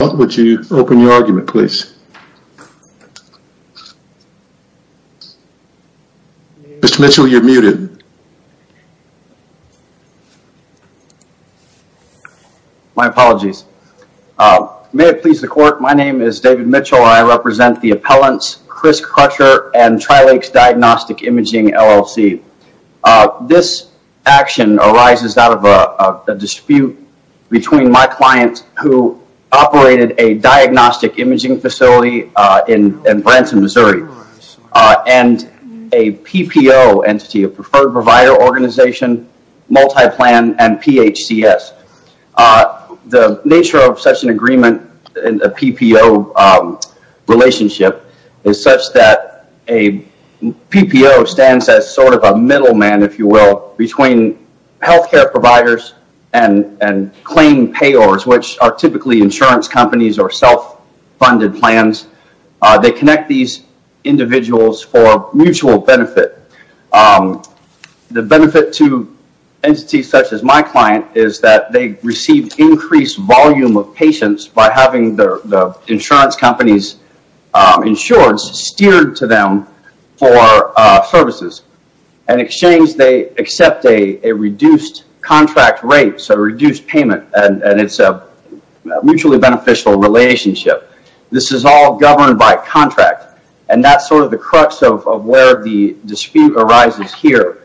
Would you open your argument, please? Mr. Mitchell, you're muted. My apologies. May it please the court, my name is David Mitchell. I represent the appellants Chris Crutcher and Tri-Lakes Diagnostic Imaging LLC. This action arises out of a dispute between my client who operated a diagnostic imaging facility in Branson, Missouri, and a PPO entity, a Preferred Provider Organization, Multiplan, and PHCS. The nature of such an agreement in a PPO relationship is such that a PPO stands as sort of a middleman, if you will, between healthcare providers and claim payors, which are typically insurance companies or self-funded plans. They connect these individuals for mutual benefit. The benefit to entities such as my client is that they receive increased volume of patients by having the insurance companies insured steered to them for services. In exchange, they accept a reduced contract rate, so a reduced payment, and it's a mutually beneficial relationship. This is all governed by contract, and that's sort of the crux of where the dispute arises here.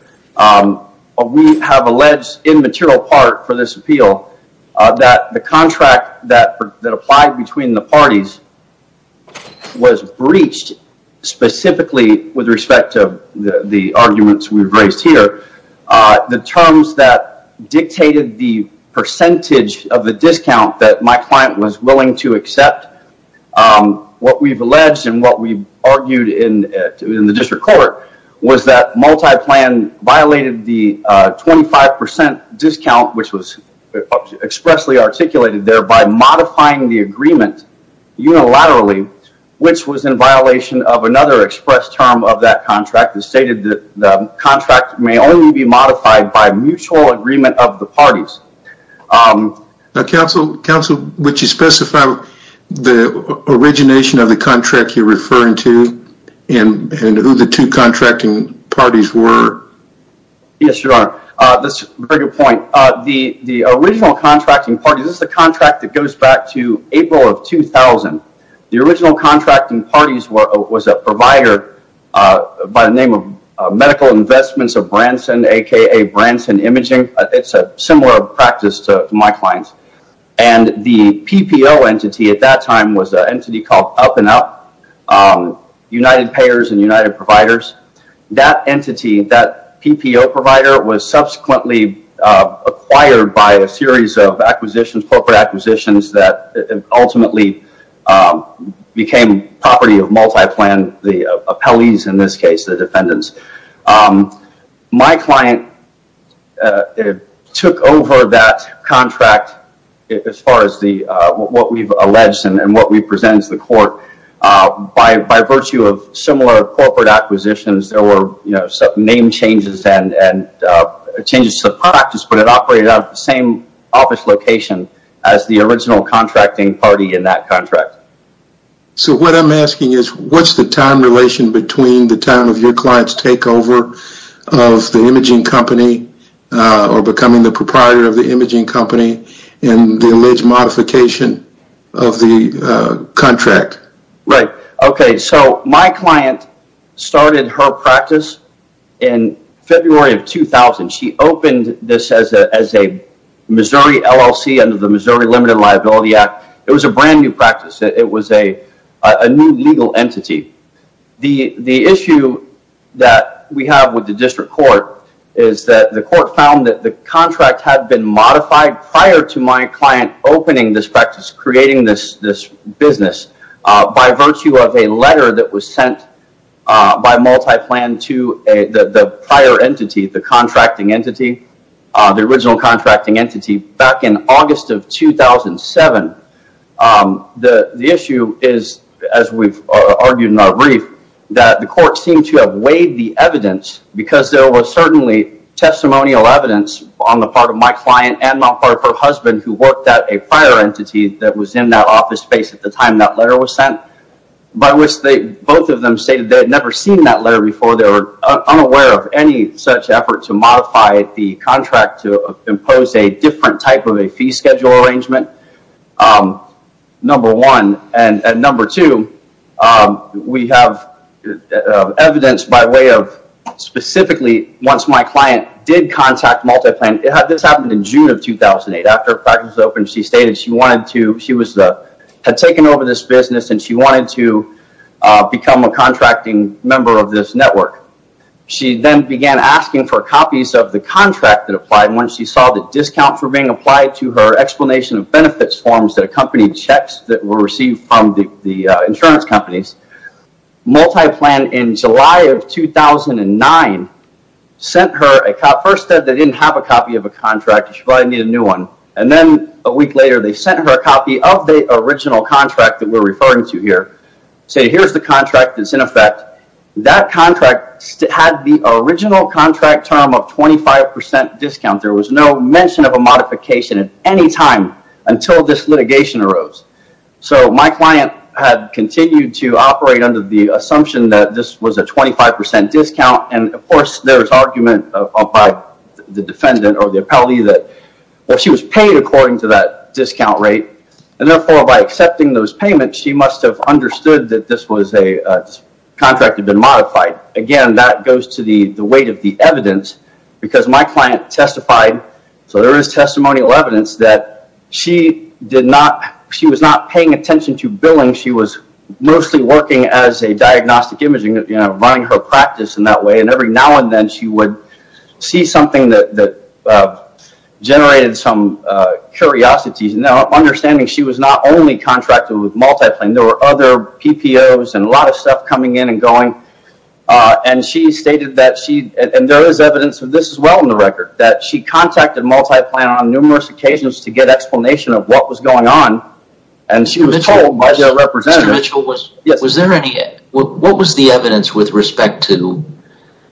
We have alleged in material part for this appeal that the contract that applied between the parties was breached specifically with respect to the arguments we've raised here. The terms that dictated the percentage of the discount that my client was willing to accept, what we've alleged and what we've argued in the district court was that Multiplan violated the 25% discount, which was expressly articulated there, by modifying the agreement unilaterally, which was in violation of another express term of that contract that stated that the contract may only be modified by mutual agreement of the parties. Now, counsel, would you specify the origination of the contract you're referring to and who the two contracting parties were? Yes, Your Honor. That's a very good point. The original contracting party, this is the contract that goes back to April of 2000. The original contracting parties was a provider by the name of Medical Investments of Branson, a.k.a. Branson Imaging. It's a similar practice to my clients, and the PPO entity at that time was an entity called Up and Up, United Payers and United Providers. That entity, that PPO provider, was subsequently acquired by a series of acquisitions, corporate acquisitions, that ultimately became property of Multiplan, the appellees in this case, the defendants. My client took over that contract as far as what we've alleged and what we presented to the court. By virtue of similar corporate acquisitions, there were name changes and changes to the practice, but it operated out of the same office location as the original contracting party in that contract. So what I'm asking is, what's the time relation between the time of your client's takeover of the imaging company or becoming the proprietor of the imaging company and the alleged modification of the contract? Right. Okay, so my client started her practice in February of 2000. She opened this as a Missouri LLC under the Missouri Limited Liability Act. It was a brand new practice. It was a new legal entity. The issue that we have with the district court is that the court found that the contract had been modified prior to my client opening this practice, creating this business, by virtue of a letter that was sent by multi-plan to the prior entity, the contracting entity, the original contracting entity, back in August of 2007. The issue is, as we've argued in our brief, that the court seemed to have weighed the evidence because there was certainly testimonial evidence on the part of my client and on the part of her husband who worked at a prior entity that was in that office space at the time that letter was sent. By which they both of them stated they had never seen that letter before. They were unaware of any such effort to modify the contract to impose a different type of a fee schedule arrangement. Number one. And number two, we have evidence by way of specifically, once my client did contact multi-plan, this happened in June of 2008 after practice opened, she stated she had taken over this business and she wanted to become a contracting member of this network. She then began asking for copies of the contract that applied and when she saw the discount for being applied to her explanation of benefits forms that accompanied checks that were received from the insurance companies, multi-plan in July of 2009 sent her a copy. First, they said they didn't have a copy of a contract. She probably needed a new one and then a week later they sent her a copy of the original contract that we're referring to here. Say here's the contract that's in effect. That contract had the original contract term of 25% discount. There was no mention of a modification at any time until this litigation arose. So my client had continued to operate under the assumption that this was a 25% discount and of course there was argument by the defendant or the appellee that well, she was paid according to that discount rate and therefore by accepting those payments, she must have understood that this was a contract had been modified. Again, that goes to the the weight of the evidence because my client testified, so there is testimonial evidence, that she did not, she was not paying attention to billing. She was mostly working as a diagnostic imaging, running her practice in that way, and every now and then she would see something that generated some curiosities. Now understanding she was not only contracted with multi-plan. There were other PPO's and a lot of stuff coming in and going. And she stated that she, and there is evidence of this as well in the record, that she contacted multi-plan on numerous occasions to get explanation of what was going on and she was told by their representative. Was there any, what was the evidence with respect to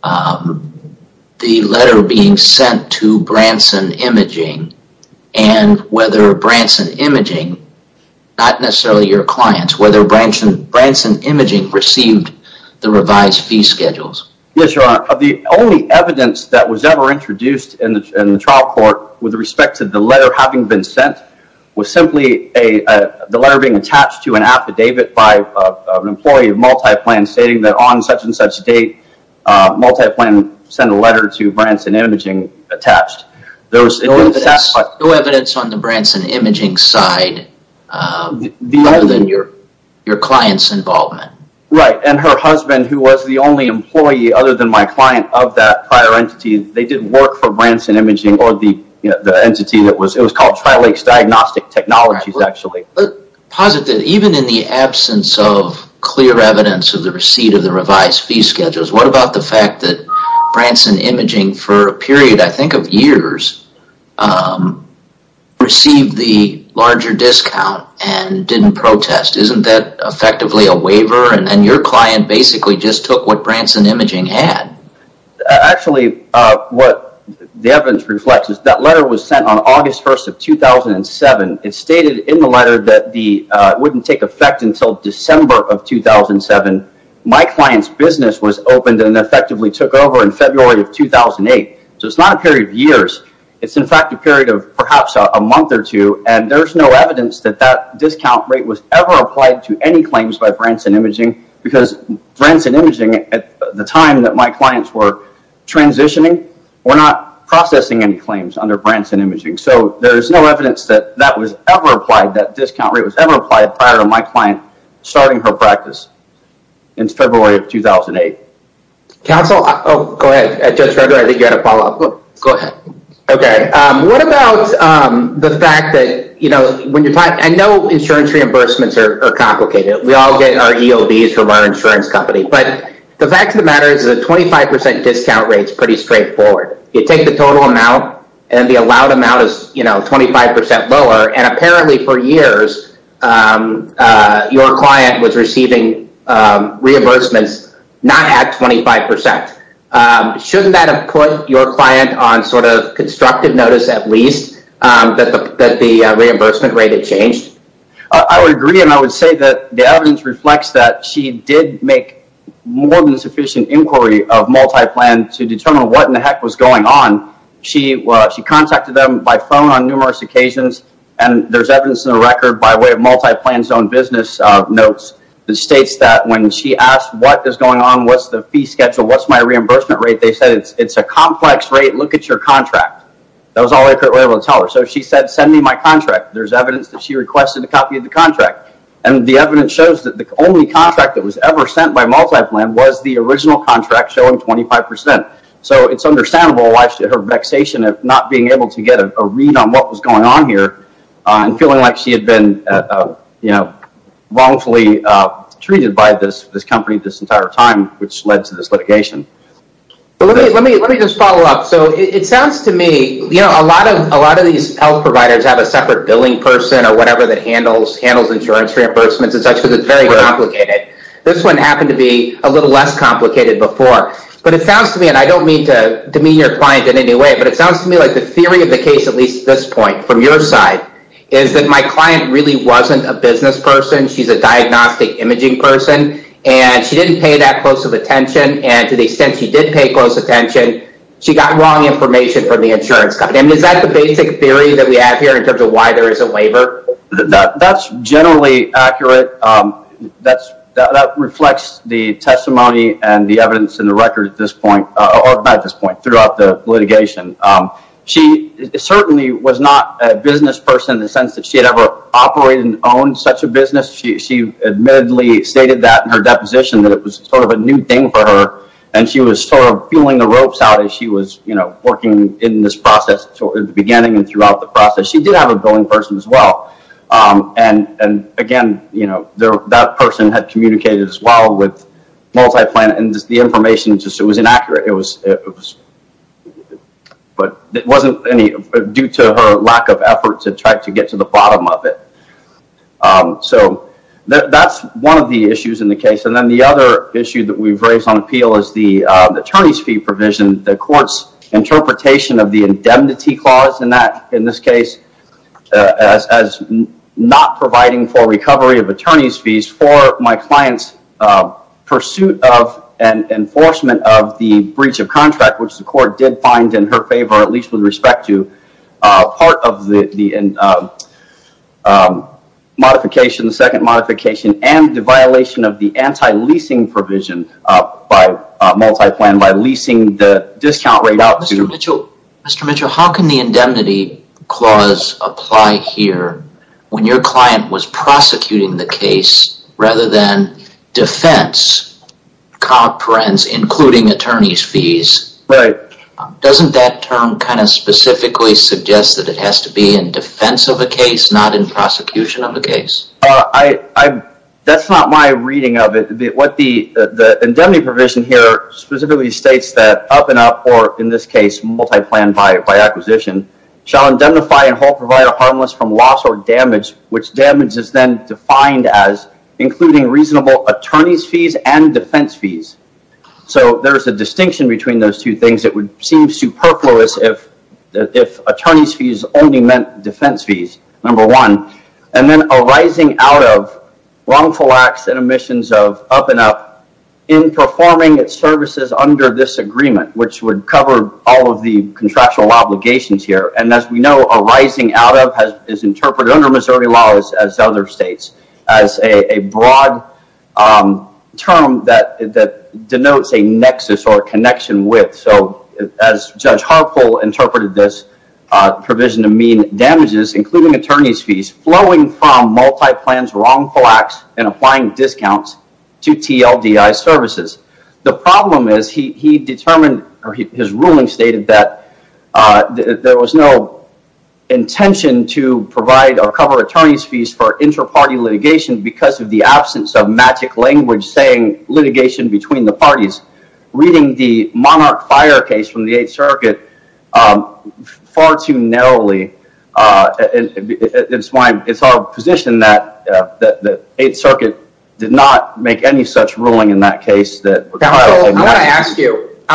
the letter being sent to Branson Imaging and whether Branson Imaging, not necessarily your clients, whether Branson Imaging received the revised fee schedules? Yes, your honor. Of the only evidence that was ever introduced in the trial court with respect to the letter having been sent was simply a, the letter being attached to an affidavit by an employee of multi-plan stating that on such-and-such date multi-plan sent a letter to Branson Imaging attached. There was no evidence on the Branson Imaging side other than your clients involvement. Right, and her husband who was the only employee other than my client of that prior entity, they didn't work for Branson Imaging or the, you know, the entity that was, it was called Tri-Lakes Diagnostic Technologies actually. Positive, even in the absence of clear evidence of the receipt of the revised fee schedules, what about the fact that Branson Imaging for a period, I think of years, received the larger discount and didn't protest. Isn't that effectively a waiver and your client basically just took what Branson Imaging had? Actually, what the evidence reflects is that letter was sent on August 1st of 2007. It stated in the letter that the, wouldn't take effect until December of 2007. My client's business was opened and effectively took over in February of 2008. So it's not a period of years. It's in fact a period of perhaps a month or two and there's no evidence that that discount rate was ever applied to any claims by Branson Imaging because Branson Imaging, at the time that my clients were transitioning, were not processing any claims under Branson Imaging. So there's no evidence that that was ever applied, that discount rate was ever applied prior to my client starting her practice in February of 2008. Counsel, oh go ahead. I think you had a follow-up. Go ahead. Okay. What about the fact that, you know, when you're talking, I know insurance reimbursements are complicated. We all get our EOBs from our insurance company. But the fact of the matter is a 25% discount rate is pretty straightforward. You take the total amount and the allowed amount is, you know, 25% lower and apparently for years your client was receiving reimbursements not at 25%. Shouldn't that have put your client on sort of constructive notice at least that the reimbursement rate had changed? I would agree and I would say that the evidence reflects that she did make more than sufficient inquiry of Multiplan to determine what in the heck was going on. She contacted them by phone on numerous occasions and there's evidence in the record by way of Multiplan's own business notes that states that when she asked what is going on, what's the fee schedule, what's my reimbursement rate? They said it's a complex rate. Look at your contract. That was all they were able to tell her. So she said send me my contract. There's evidence that she requested a copy of the contract and the evidence shows that the only contract that was ever sent by Multiplan was the original contract showing 25%. So it's understandable why she had her vexation of not being able to get a read on what was going on here and feeling like she had been, you know, wrongfully treated by this company this entire time which led to this litigation. Let me just follow up. So it sounds to me, you know, a lot of these health providers have a separate billing person or whatever that handles insurance reimbursements and such because it's very complicated. This one happened to be a little less complicated before. But it sounds to me, and I don't mean to demean your client in any way, but it sounds to me like the theory of the case, at least this point from your side, is that my client really wasn't a business person. She's a diagnostic imaging person and she didn't pay that close of attention and to the extent she did pay close attention, she got wrong information from the insurance company. Is that the basic theory that we have here in terms of why there is a waiver? That's generally accurate. That's that reflects the testimony and the evidence in the record at this point or at this point throughout the litigation. She certainly was not a business person in the sense that she had ever operated and owned such a business. She admittedly stated that in her deposition that it was sort of a new thing for her. And she was sort of feeling the ropes out as she was, you know, working in this process towards the beginning and throughout the process. She did have a billing person as well. And again, you know, that person had communicated as well with Multi-Planet and the information just it was inaccurate. It was But it wasn't any due to her lack of effort to try to get to the bottom of it. So that's one of the issues in the case. And then the other issue that we've raised on appeal is the attorney's fee provision. The court's interpretation of the indemnity clause in that in this case as not providing for recovery of attorney's fees for my client's Pursuit of and enforcement of the breach of contract which the court did find in her favor at least with respect to part of the Modification the second modification and the violation of the anti-leasing provision By Multi-Plan by leasing the discount rate out to the Mitchell. Mr. Mitchell. How can the indemnity clause? Apply here when your client was prosecuting the case rather than defense Comprehends including attorney's fees, right? Doesn't that term kind of specifically suggest that it has to be in defense of a case not in prosecution of the case. I That's not my reading of it What the the indemnity provision here specifically states that up and up or in this case Multi-Plan by by acquisition shall indemnify and hold provider harmless from loss or damage which damage is then defined as Including reasonable attorney's fees and defense fees so there's a distinction between those two things that would seem superfluous if if attorney's fees only meant defense fees number one and then a rising out of wrongful acts and omissions of up and up in Performing its services under this agreement, which would cover all of the contractual obligations here and as we know a rising out of has is interpreted under Missouri laws as other states as a broad Term that that denotes a nexus or a connection with so as Judge Harpole interpreted this provision to mean damages including attorney's fees flowing from Multi-Plan's wrongful acts and applying discounts to TLDI services. The problem is he determined or his ruling stated that There was no Intention to provide or cover attorney's fees for inter-party litigation because of the absence of magic language saying litigation between the parties Reading the monarch fire case from the 8th Circuit far too narrowly It's why it's our position that that the 8th Circuit did not make any such ruling in that case that You I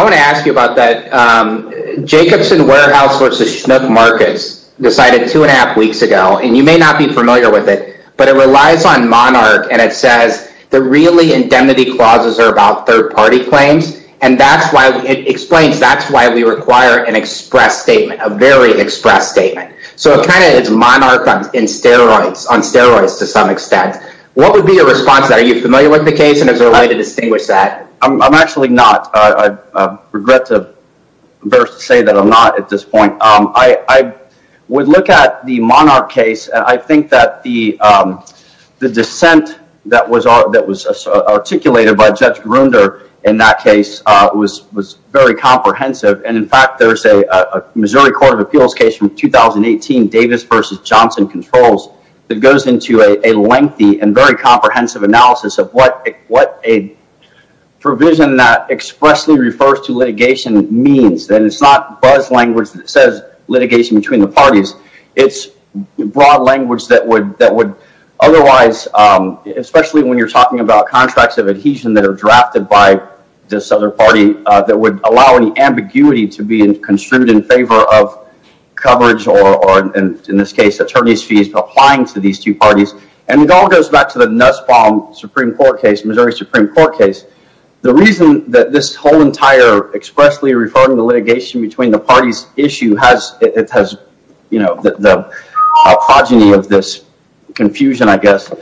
want to ask you about that Jacobson warehouse versus schnook markets decided two and a half weeks ago, and you may not be familiar with it But it relies on monarch and it says the really indemnity clauses are about third-party claims And that's why it explains that's why we require an express statement a very express statement So it kind of it's monarch on in steroids on steroids to some extent What would be a response that are you familiar with the case and as a way to distinguish that? I'm actually not Regret to say that I'm not at this point. I would look at the monarch case and I think that the the dissent that was art that was Articulated by Judge Grunder in that case was was very comprehensive and in fact, there's a Missouri Court of Appeals case from 2018 Davis versus Johnson controls that goes into a lengthy and very comprehensive analysis of what what a Provision that expressly refers to litigation means then it's not buzz language that says litigation between the parties it's broad language that would that would otherwise especially when you're talking about contracts of adhesion that are drafted by this other party that would allow any ambiguity to be in construed in favor of coverage or In this case attorneys fees applying to these two parties and it all goes back to the Nussbaum Supreme Court case Missouri Supreme Court case the reason that this whole entire expressly referring the litigation between the parties issue has it has you know, the progeny of this Confusion, I guess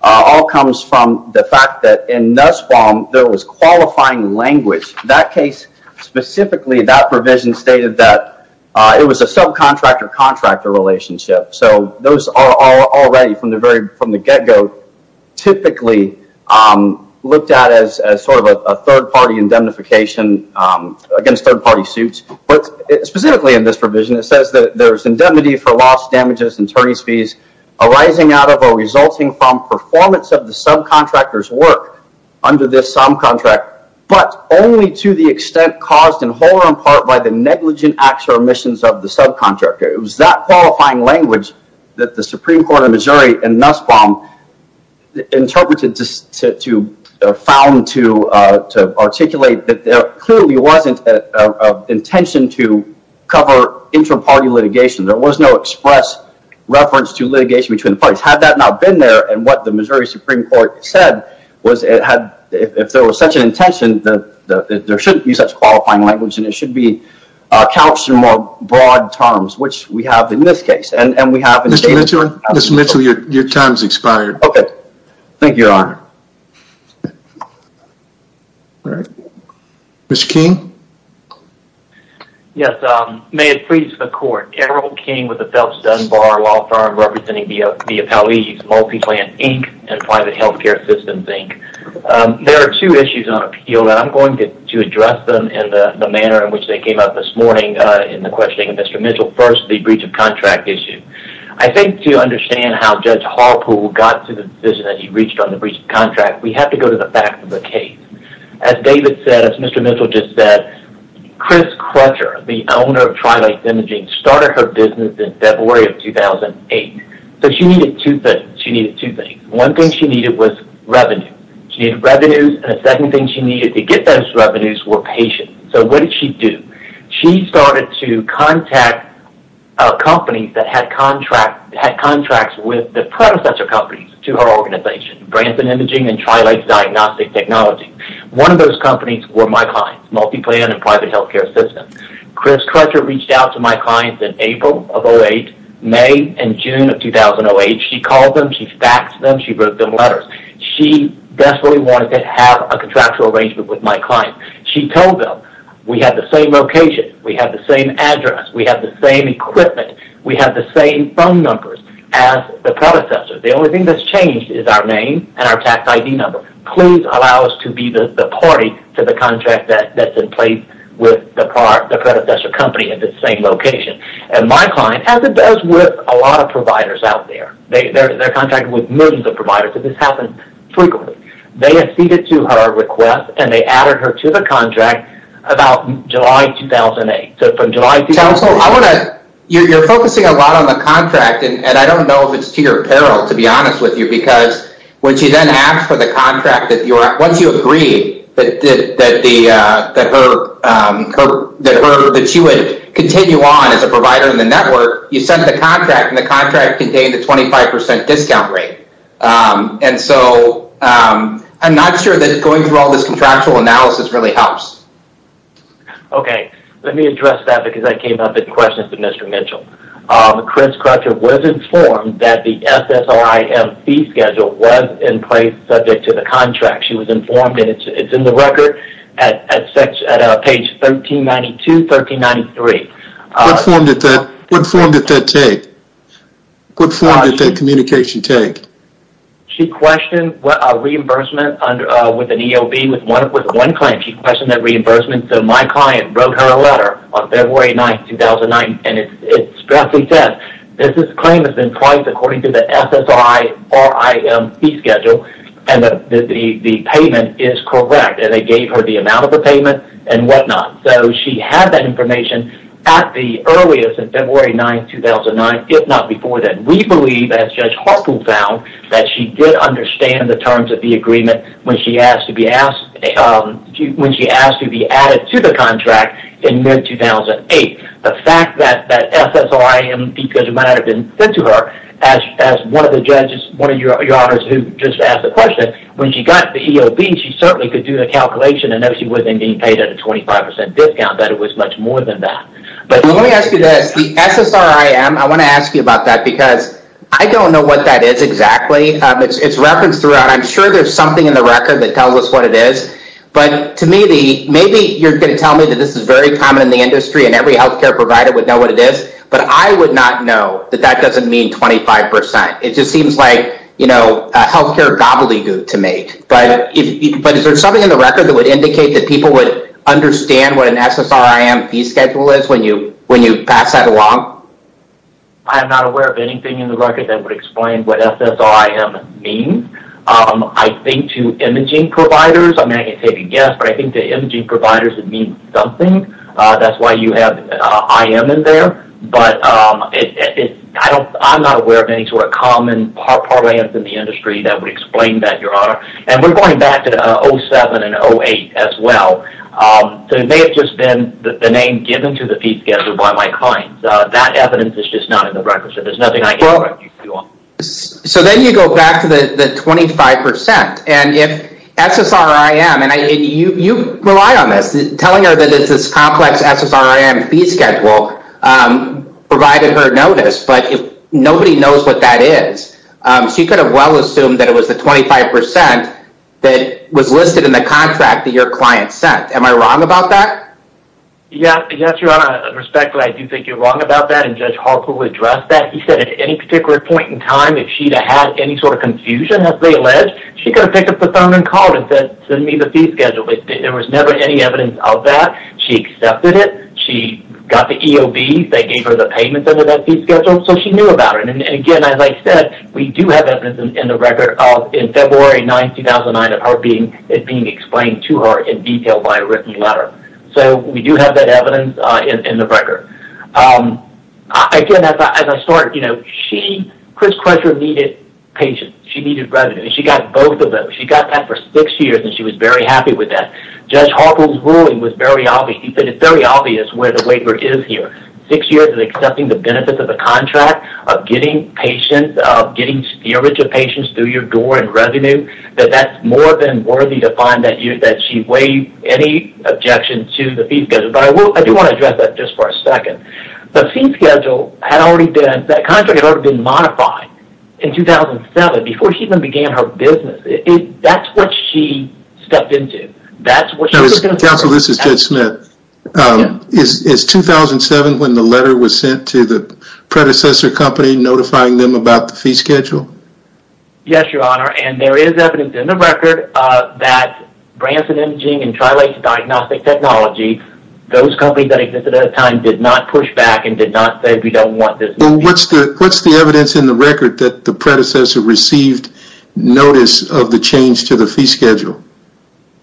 all comes from the fact that in Nussbaum there was qualifying language that case Specifically that provision stated that it was a subcontractor contractor relationship. So those are already from the very from the get-go Typically Looked at as sort of a third-party indemnification Against third-party suits, but specifically in this provision It says that there's indemnity for loss damages and attorneys fees Arising out of a resulting from performance of the subcontractors work under this some contract But only to the extent caused in whole or in part by the negligent acts or omissions of the subcontractor It was that qualifying language that the Supreme Court of Missouri and Nussbaum Interpreted to found to articulate that there clearly wasn't a intention to cover Inter-party litigation there was no express Reference to litigation between the parties had that not been there and what the Missouri Supreme Court said was it had if there was such an intention that there shouldn't be such qualifying language and it should be Counselor more broad terms, which we have in this case and and we have mr. Mitchell. Mr. Mitchell your times expired Okay. Thank you, Your Honor Mr. King Yes, may it please the court Errol King with the Phelps Dunbar law firm representing the Appellees multi-plan Inc and private health care systems Inc There are two issues on appeal that I'm going to address them in the manner in which they came up this morning in the Questioning of mr. Mitchell first the breach of contract issue I think to understand how judge Harpool got to the vision that he reached on the breach of contract We have to go to the back of the case as David said, it's mr. Mitchell just said Chris Crutcher the owner of Trilite imaging started her business in February of 2008 But she needed to fit she needed to think one thing she needed was revenue She needed revenues and a second thing. She needed to get those revenues were patient. So what did she do? She started to contact? Companies that had contract had contracts with the predecessor companies to her organization Branson imaging and Trilite diagnostic technology one of those companies were my clients multi-plan and private health care system Chris Crutcher reached out to my clients in April of 08 May and June of 2008. She called them. She faxed them She wrote them letters. She definitely wanted to have a contractual arrangement with my client She told them we have the same location. We have the same address. We have the same equipment We have the same phone numbers as the predecessor The only thing that's changed is our name and our tax ID number Please allow us to be the party to the contract that that's in place with the part the predecessor company at the same Location and my client as it does with a lot of providers out there They're contracted with millions of providers of this happen frequently They have ceded to her request and they added her to the contract about July 2008 So from July I want to you're focusing a lot on the contract And I don't know if it's to your peril to be honest with you because when she then asked for the contract that you are once you agree that the That she would continue on as a provider in the network you sent the contract and the contract contained a 25% discount rate and so I'm not sure that going through all this contractual analysis really helps Okay, let me address that because I came up in questions to Mr. Mitchell Chris Crutcher was informed that the SSIM fee schedule was in place subject to the contract She was informed and it's in the record at such at page 1392 1393 What form did that take? What form did that communication take? She questioned what a reimbursement under with an EOB with one with one client So my client wrote her a letter on February 9th 2009 and it's Strictly said this is claim has been priced according to the SSI or I am the schedule and the Payment is correct and they gave her the amount of the payment and whatnot So she had that information at the earliest in February 9th 2009 If not before then we believe as Judge Hartful found that she did understand the terms of the agreement when she asked to be asked When she asked to be added to the contract in mid-2008 the fact that that SSRIM because it might have been sent to her as One of the judges one of your honors who just asked the question when she got the EOB She certainly could do the calculation and know she was in being paid at a 25% discount that it was much more than that But let me ask you this the SSRIM I want to ask you about that because I don't know what that is exactly. It's referenced throughout I'm sure there's something in the record that tells us what it is But to me the maybe you're going to tell me that this is very common in the industry and every health care provider would know What it is, but I would not know that that doesn't mean 25% It just seems like you know a health care gobbledygook to make but if there's something in the record that would indicate that people would Understand what an SSRIM fee schedule is when you when you pass that along I'm not aware of anything in the record that would explain what SSRIM mean I think to imaging providers. I mean I can't take a guess, but I think the imaging providers would mean something that's why you have I am in there, but I'm not aware of any sort of common Parlaments in the industry that would explain that your honor and we're going back to the 07 and 08 as well So it may have just been the name given to the fee schedule by my clients that evidence is just not in the record So there's nothing I can correct you on So then you go back to the 25% and if SSRIM and I you you rely on this telling her that it's this complex SSRIM fee schedule Provided her notice, but if nobody knows what that is She could have well assumed that it was the 25% That was listed in the contract that your client sent am I wrong about that? Yeah, yes, your honor respectfully. I do think you're wrong about that and judge Point-in-time if she had any sort of confusion as they alleged she could have picked up the phone and called and said send me the fee Schedule, but there was never any evidence of that. She accepted it. She got the EOB They gave her the payments under that fee schedule So she knew about it and again as I said We do have evidence in the record of in February 9 2009 of her being it being explained to her in detail by a written Letter, so we do have that evidence in the record I Can as I start, you know, she Chris Crusher needed patience. She needed revenue. She got both of them She got that for six years and she was very happy with that Judge Hawkins ruling was very obvious But it's very obvious where the waiver is here six years and accepting the benefits of a contract of getting Patients of getting spirits of patients through your door and revenue that that's more than worthy to find that you that she waived any Objection to the fee schedule, but I will I do want to address that just for a second The fee schedule had already been that contract had already been modified in 2007 before she even began her business That's what she stepped into that's what she was gonna counsel. This is Judge Smith Is 2007 when the letter was sent to the predecessor company notifying them about the fee schedule? Yes, your honor, and there is evidence in the record that Branson imaging and trial a diagnostic technology those companies that existed at a time did not push back and did not say we don't want this Well, what's the what's the evidence in the record that the predecessor received? Notice of the change to the fee schedule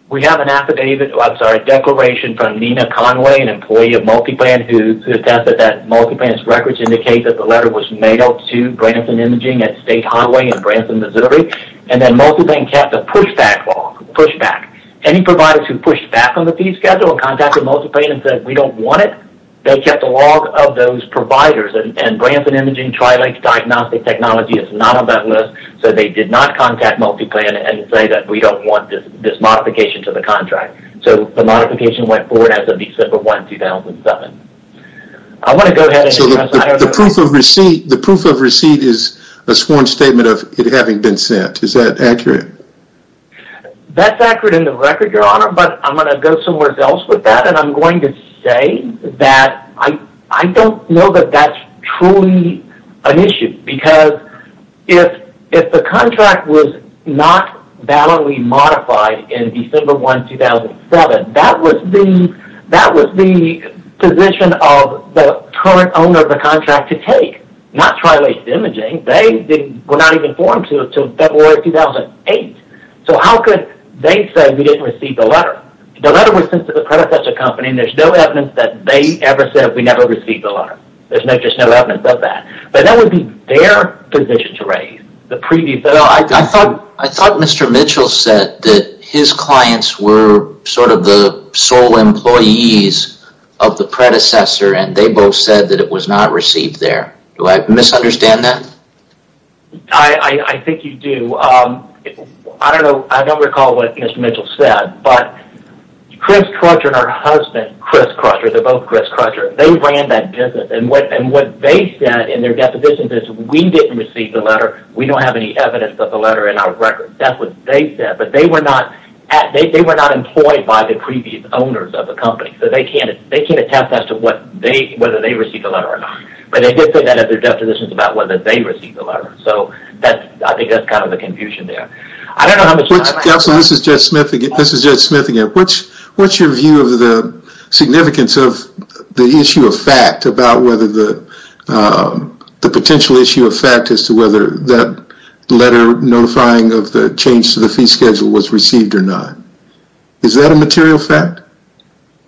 We have an affidavit I'm sorry declaration from Nina Conway an employee of multi-plan who? Attested that multi-plan's records indicate that the letter was made up to Branson imaging at State Highway in Branson, Missouri And then multi-plan kept a pushback log pushback Any providers who pushed back on the fee schedule and contacted multi-plan and said we don't want it They kept a log of those providers and Branson imaging trial a diagnostic technology It's not on that list so they did not contact multi-plan and say that we don't want this this modification to the contract So the modification went forward as of December 1, 2007 The proof of receipt the proof of receipt is a sworn statement of it having been sent is that accurate That's accurate in the record your honor But I'm going to go somewhere else with that and I'm going to say that I I don't know that that's truly an issue because if if the contract was not Validly modified in December 1, 2007 that was the that was the Position of the current owner of the contract to take not try late imaging They were not even formed to February 2008 So how could they say we didn't receive the letter the letter was sent to the predecessor company? There's no evidence that they ever said we never received the letter There's no just no evidence of that, but that would be their position to raise the previous I thought I thought mr. Mitchell said that his clients were sort of the sole employees of Predecessor and they both said that it was not received there. Do I misunderstand that? I Think you do. I don't know. I don't recall what mr. Mitchell said, but Chris Crutcher and her husband Chris Crutcher They're both Chris Crutcher They ran that business and what and what they said in their definitions is we didn't receive the letter We don't have any evidence of the letter in our record That's what they said But they were not at they were not employed by the previous owners of the company So they can't they can't attest as to what they whether they received a letter or not But they did put that at their definitions about whether they received the letter. So that's I think that's kind of a confusion there I don't know. This is just sniffing it. This is just smith again, which what's your view of the significance of the issue of fact about whether the The potential issue of fact as to whether that letter notifying of the change to the fee schedule was received or not Is that a material fact?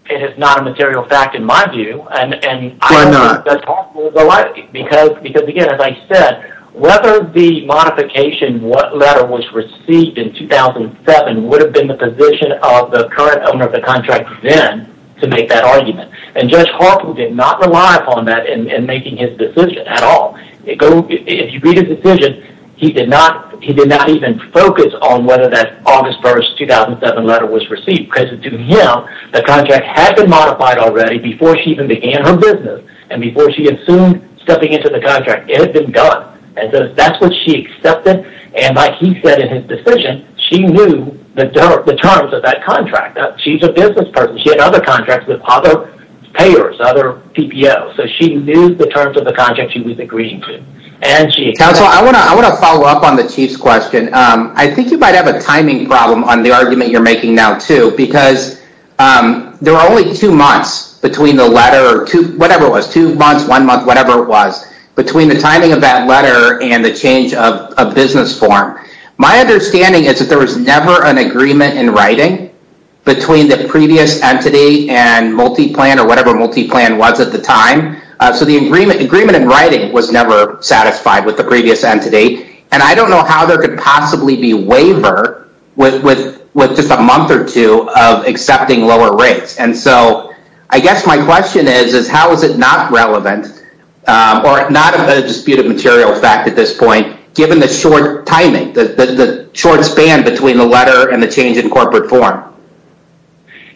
It is not a material fact in my view and and I'm not Because because again as I said whether the modification what letter was received in 2007 would have been the position of the current owner of the contract then to make that argument and judge Did not rely upon that in making his decision at all If you read his decision, he did not he did not even focus on whether that August 1st 2007 letter was received present to him The contract had been modified already before she even began her business and before she had soon Stepping into the contract it had been done and so that's what she accepted and like he said in his decision She knew the terms of that contract that she's a business person. She had other contracts with other Payers other TPO so she knew the terms of the contract she was agreeing to and she council I want to I want to follow up on the chief's question. I think you might have a timing problem on the argument you're making now too because There are only two months between the letter to whatever was two months one month Whatever it was between the timing of that letter and the change of a business form My understanding is that there was never an agreement in writing Between the previous entity and multi-plan or whatever multi-plan was at the time So the agreement agreement in writing was never satisfied with the previous entity and I don't know how there could possibly be waiver With with with just a month or two of accepting lower rates And so I guess my question is is how is it not relevant or not a disputed material fact at this point? Given the short timing the short span between the letter and the change in corporate form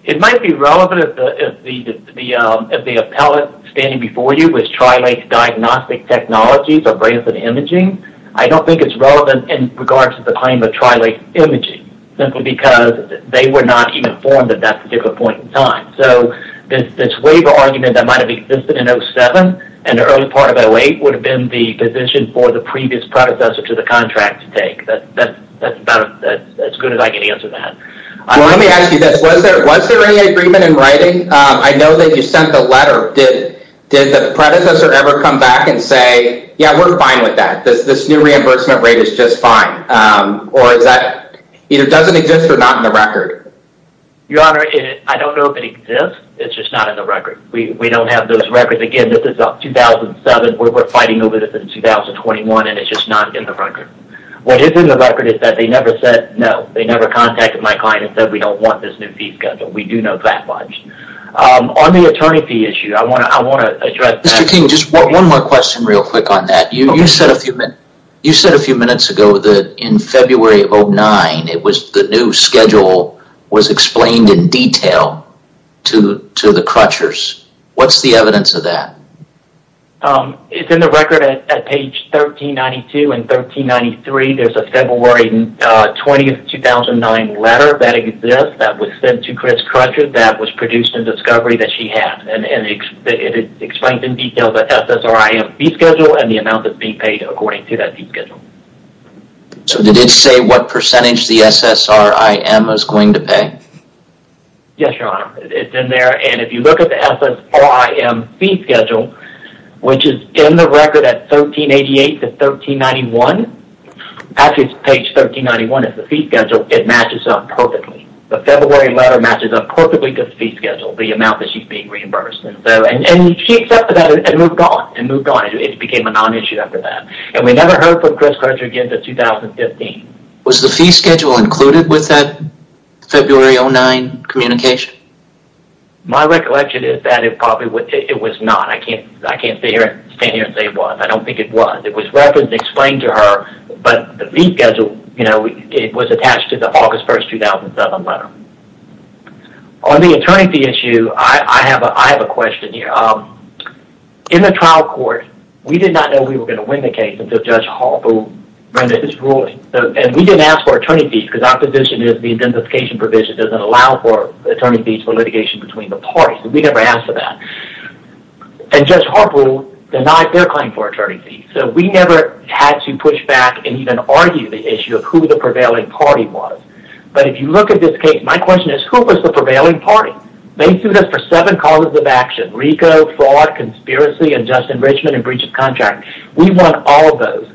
It might be relevant The appellate standing before you was Tri-Lake diagnostic technologies or brains and imaging I don't think it's relevant in regards to the claim of Tri-Lake imaging Simply because they were not even formed at that particular point in time So this waiver argument that might have existed in 07 and the early part of 08 would have been the position for the previous predecessor to the contract to take As good as I can answer that Let me ask you this. Was there any agreement in writing? I know that you sent the letter did did the predecessor ever come back and say yeah, we're fine with that This this new reimbursement rate is just fine Or is that either doesn't exist or not in the record? Your honor. I don't know if it exists. It's just not in the record. We don't have those records again. This is up 2007 We're fighting over this in 2021 and it's just not in the record What is in the record is that they never said no they never contacted my client and said we don't want this new fee schedule We do know that much On the attorney fee issue. I want to I want to address that. Mr. King, just one more question real quick on that You said a few minutes ago that in February of 09 It was the new schedule was explained in detail to to the crutchers. What's the evidence of that? It's in the record at page 1392 and 1393 there's a February 20th 2009 letter that exists that was sent to Chris Crutcher that was produced in discovery that she had and Explained in detail the SSRI fee schedule and the amount that's being paid according to that fee schedule So did it say what percentage the SSRI M is going to pay? Yes, your honor it's in there and if you look at the SSRI M fee schedule Which is in the record at 1388 to 1391 Actually, it's page 1391 is the fee schedule it matches up perfectly The February letter matches up perfectly to the fee schedule the amount that she's being reimbursed And so and she accepted that and moved on and moved on it became a non-issue after that and we never heard from Chris Crutcher Again to 2015 was the fee schedule included with that February 09 communication My recollection is that it probably would it was not I can't I can't stay here and say it was I don't think it Was it was reference explained to her, but the fee schedule, you know, it was attached to the August 1st 2007 letter On the attorney fee issue. I have a question here In the trial court, we did not know we were going to win the case until Judge Hall who Is ruling and we didn't ask for attorney fee because our position is the identification provision doesn't allow for Attorney fees for litigation between the parties. We never asked for that And just horrible denied their claim for attorney fee So we never had to push back and even argue the issue of who the prevailing party was But if you look at this case, my question is who was the prevailing party? They sued us for seven causes of action Rico fraud conspiracy and just enrichment and breach of contract We want all those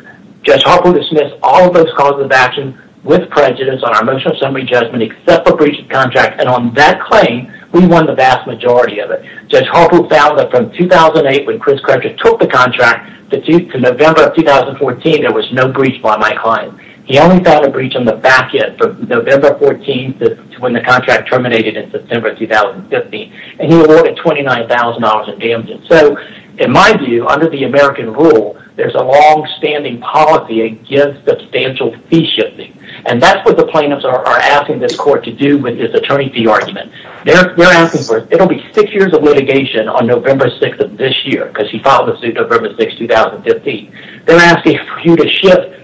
Just hopper dismiss all those causes of action with prejudice on our motion of summary judgment except for breach of contract and on that claim We won the vast majority of it Just hopper found that from 2008 when Chris Crutcher took the contract the tooth to November of 2014 There was no breach by my client He only found a breach on the back end from November 14 to when the contract terminated in September 2015 and he awarded $29,000 in damages. So in my view under the American rule, there's a long-standing Policy against substantial fee shifting and that's what the plaintiffs are asking this court to do with this attorney fee argument They're asking for it'll be six years of litigation on November 6th of this year because he filed the suit November 6 2015 they're asking for you to ship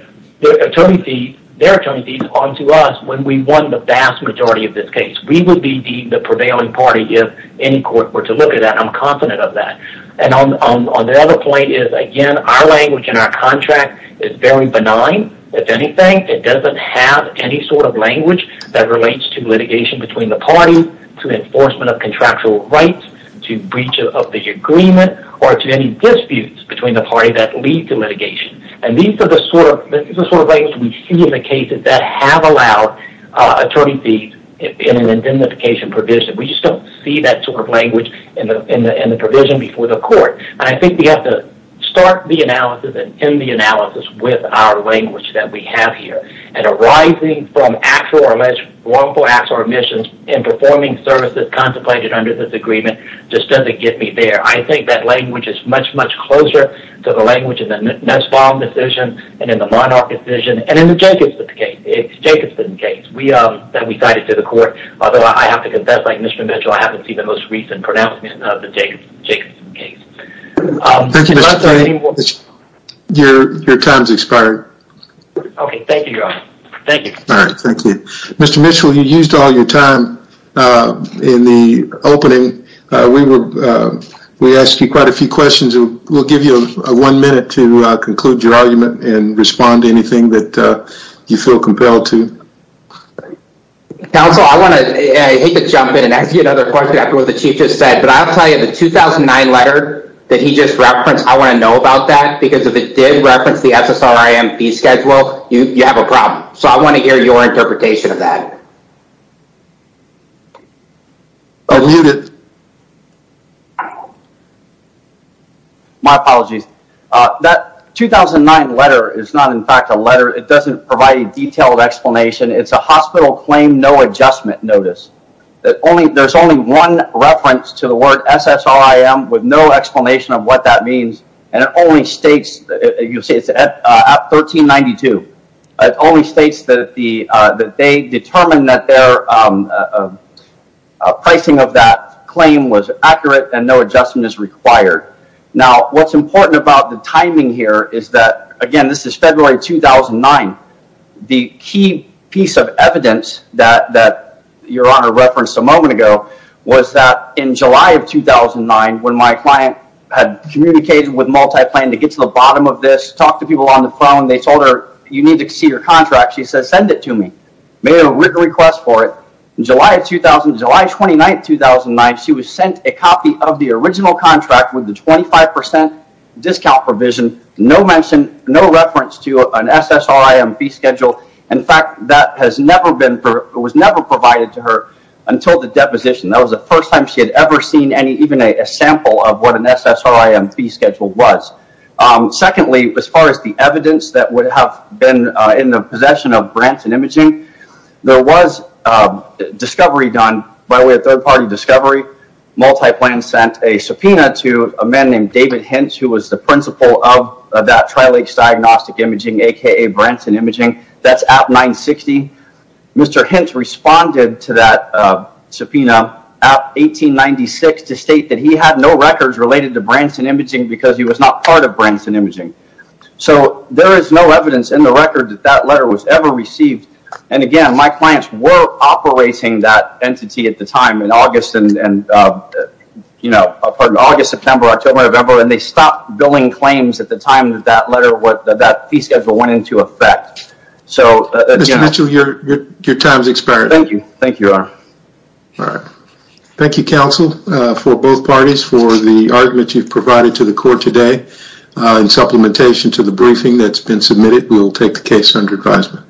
Tony see they're turning these on to us when we won the vast majority of this case We would be the prevailing party if any court were to look at that I'm confident of that and on the other point is again our language in our contract is very benign If anything, it doesn't have any sort of language that relates to litigation between the parties to enforcement of contractual rights to breach of the agreement or to any disputes between the party that lead to litigation and these are the sort of things we see in the cases that have allowed Attorney fees in an identification provision We just don't see that sort of language in the in the in the provision before the court I think we have to start the analysis and in the analysis with our language that we have here and Arising from actual or alleged wrongful acts or omissions in performing services contemplated under this agreement just doesn't get me there I think that language is much much closer to the language in the Nussbaum decision and in the Monarch decision and in the Jacobson case we um that we cited to the court. Although I have to confess like Mr. Mitchell I haven't seen the most recent pronouncement of the Jacobson case Your your time's expired Okay, thank you. Thank you. All right. Thank you. Mr. Mitchell. You used all your time in the opening we were We asked you quite a few questions We'll give you a one minute to conclude your argument and respond to anything that you feel compelled to Counsel I want to The teachers said but I'll tell you the 2009 letter that he just referenced I want to know about that because if it did reference the SSRI MP schedule you you have a problem So I want to hear your interpretation of that I Apologies that 2009 letter is not in fact a letter. It doesn't provide a detailed explanation. It's a hospital claim No adjustment notice that only there's only one reference to the word SSR I am with no explanation of what that means and it only states that you'll see it's at 1392 it only states that the that they determine that their Pricing of that claim was accurate and no adjustment is required Now what's important about the timing here? Is that again? This is February 2009? The key piece of evidence that that your honor referenced a moment ago Was that in July of 2009 when my client had communicated with multi-plan to get to the bottom of this Talk to people on the phone. They told her you need to see your contract She says send it to me made a request for it in July 2000 July 29th, 2009 She was sent a copy of the original contract with the 25% Discount provision no mention no reference to an SSRI MP schedule In fact that has never been for it was never provided to her until the deposition That was the first time she had ever seen any even a sample of what an SSRI MP schedule was Secondly as far as the evidence that would have been in the possession of Branson imaging there was Discovery done by way of third-party discovery Multi-plan sent a subpoena to a man named David Hintz who was the principal of that Trilakes diagnostic imaging aka Branson imaging That's at 960 Mr. Hintz responded to that subpoena at No records related to Branson imaging because he was not part of Branson imaging So there is no evidence in the record that that letter was ever received and again my clients were operating that entity at the time in August and You know August September October November and they stopped billing claims at the time that that letter what that fee schedule went into effect So as you mentioned your your time's expired. Thank you. Thank you All right, thank you counsel for both parties for the argument you've provided to the court today In supplementation to the briefing that's been submitted. We'll take the case under advisement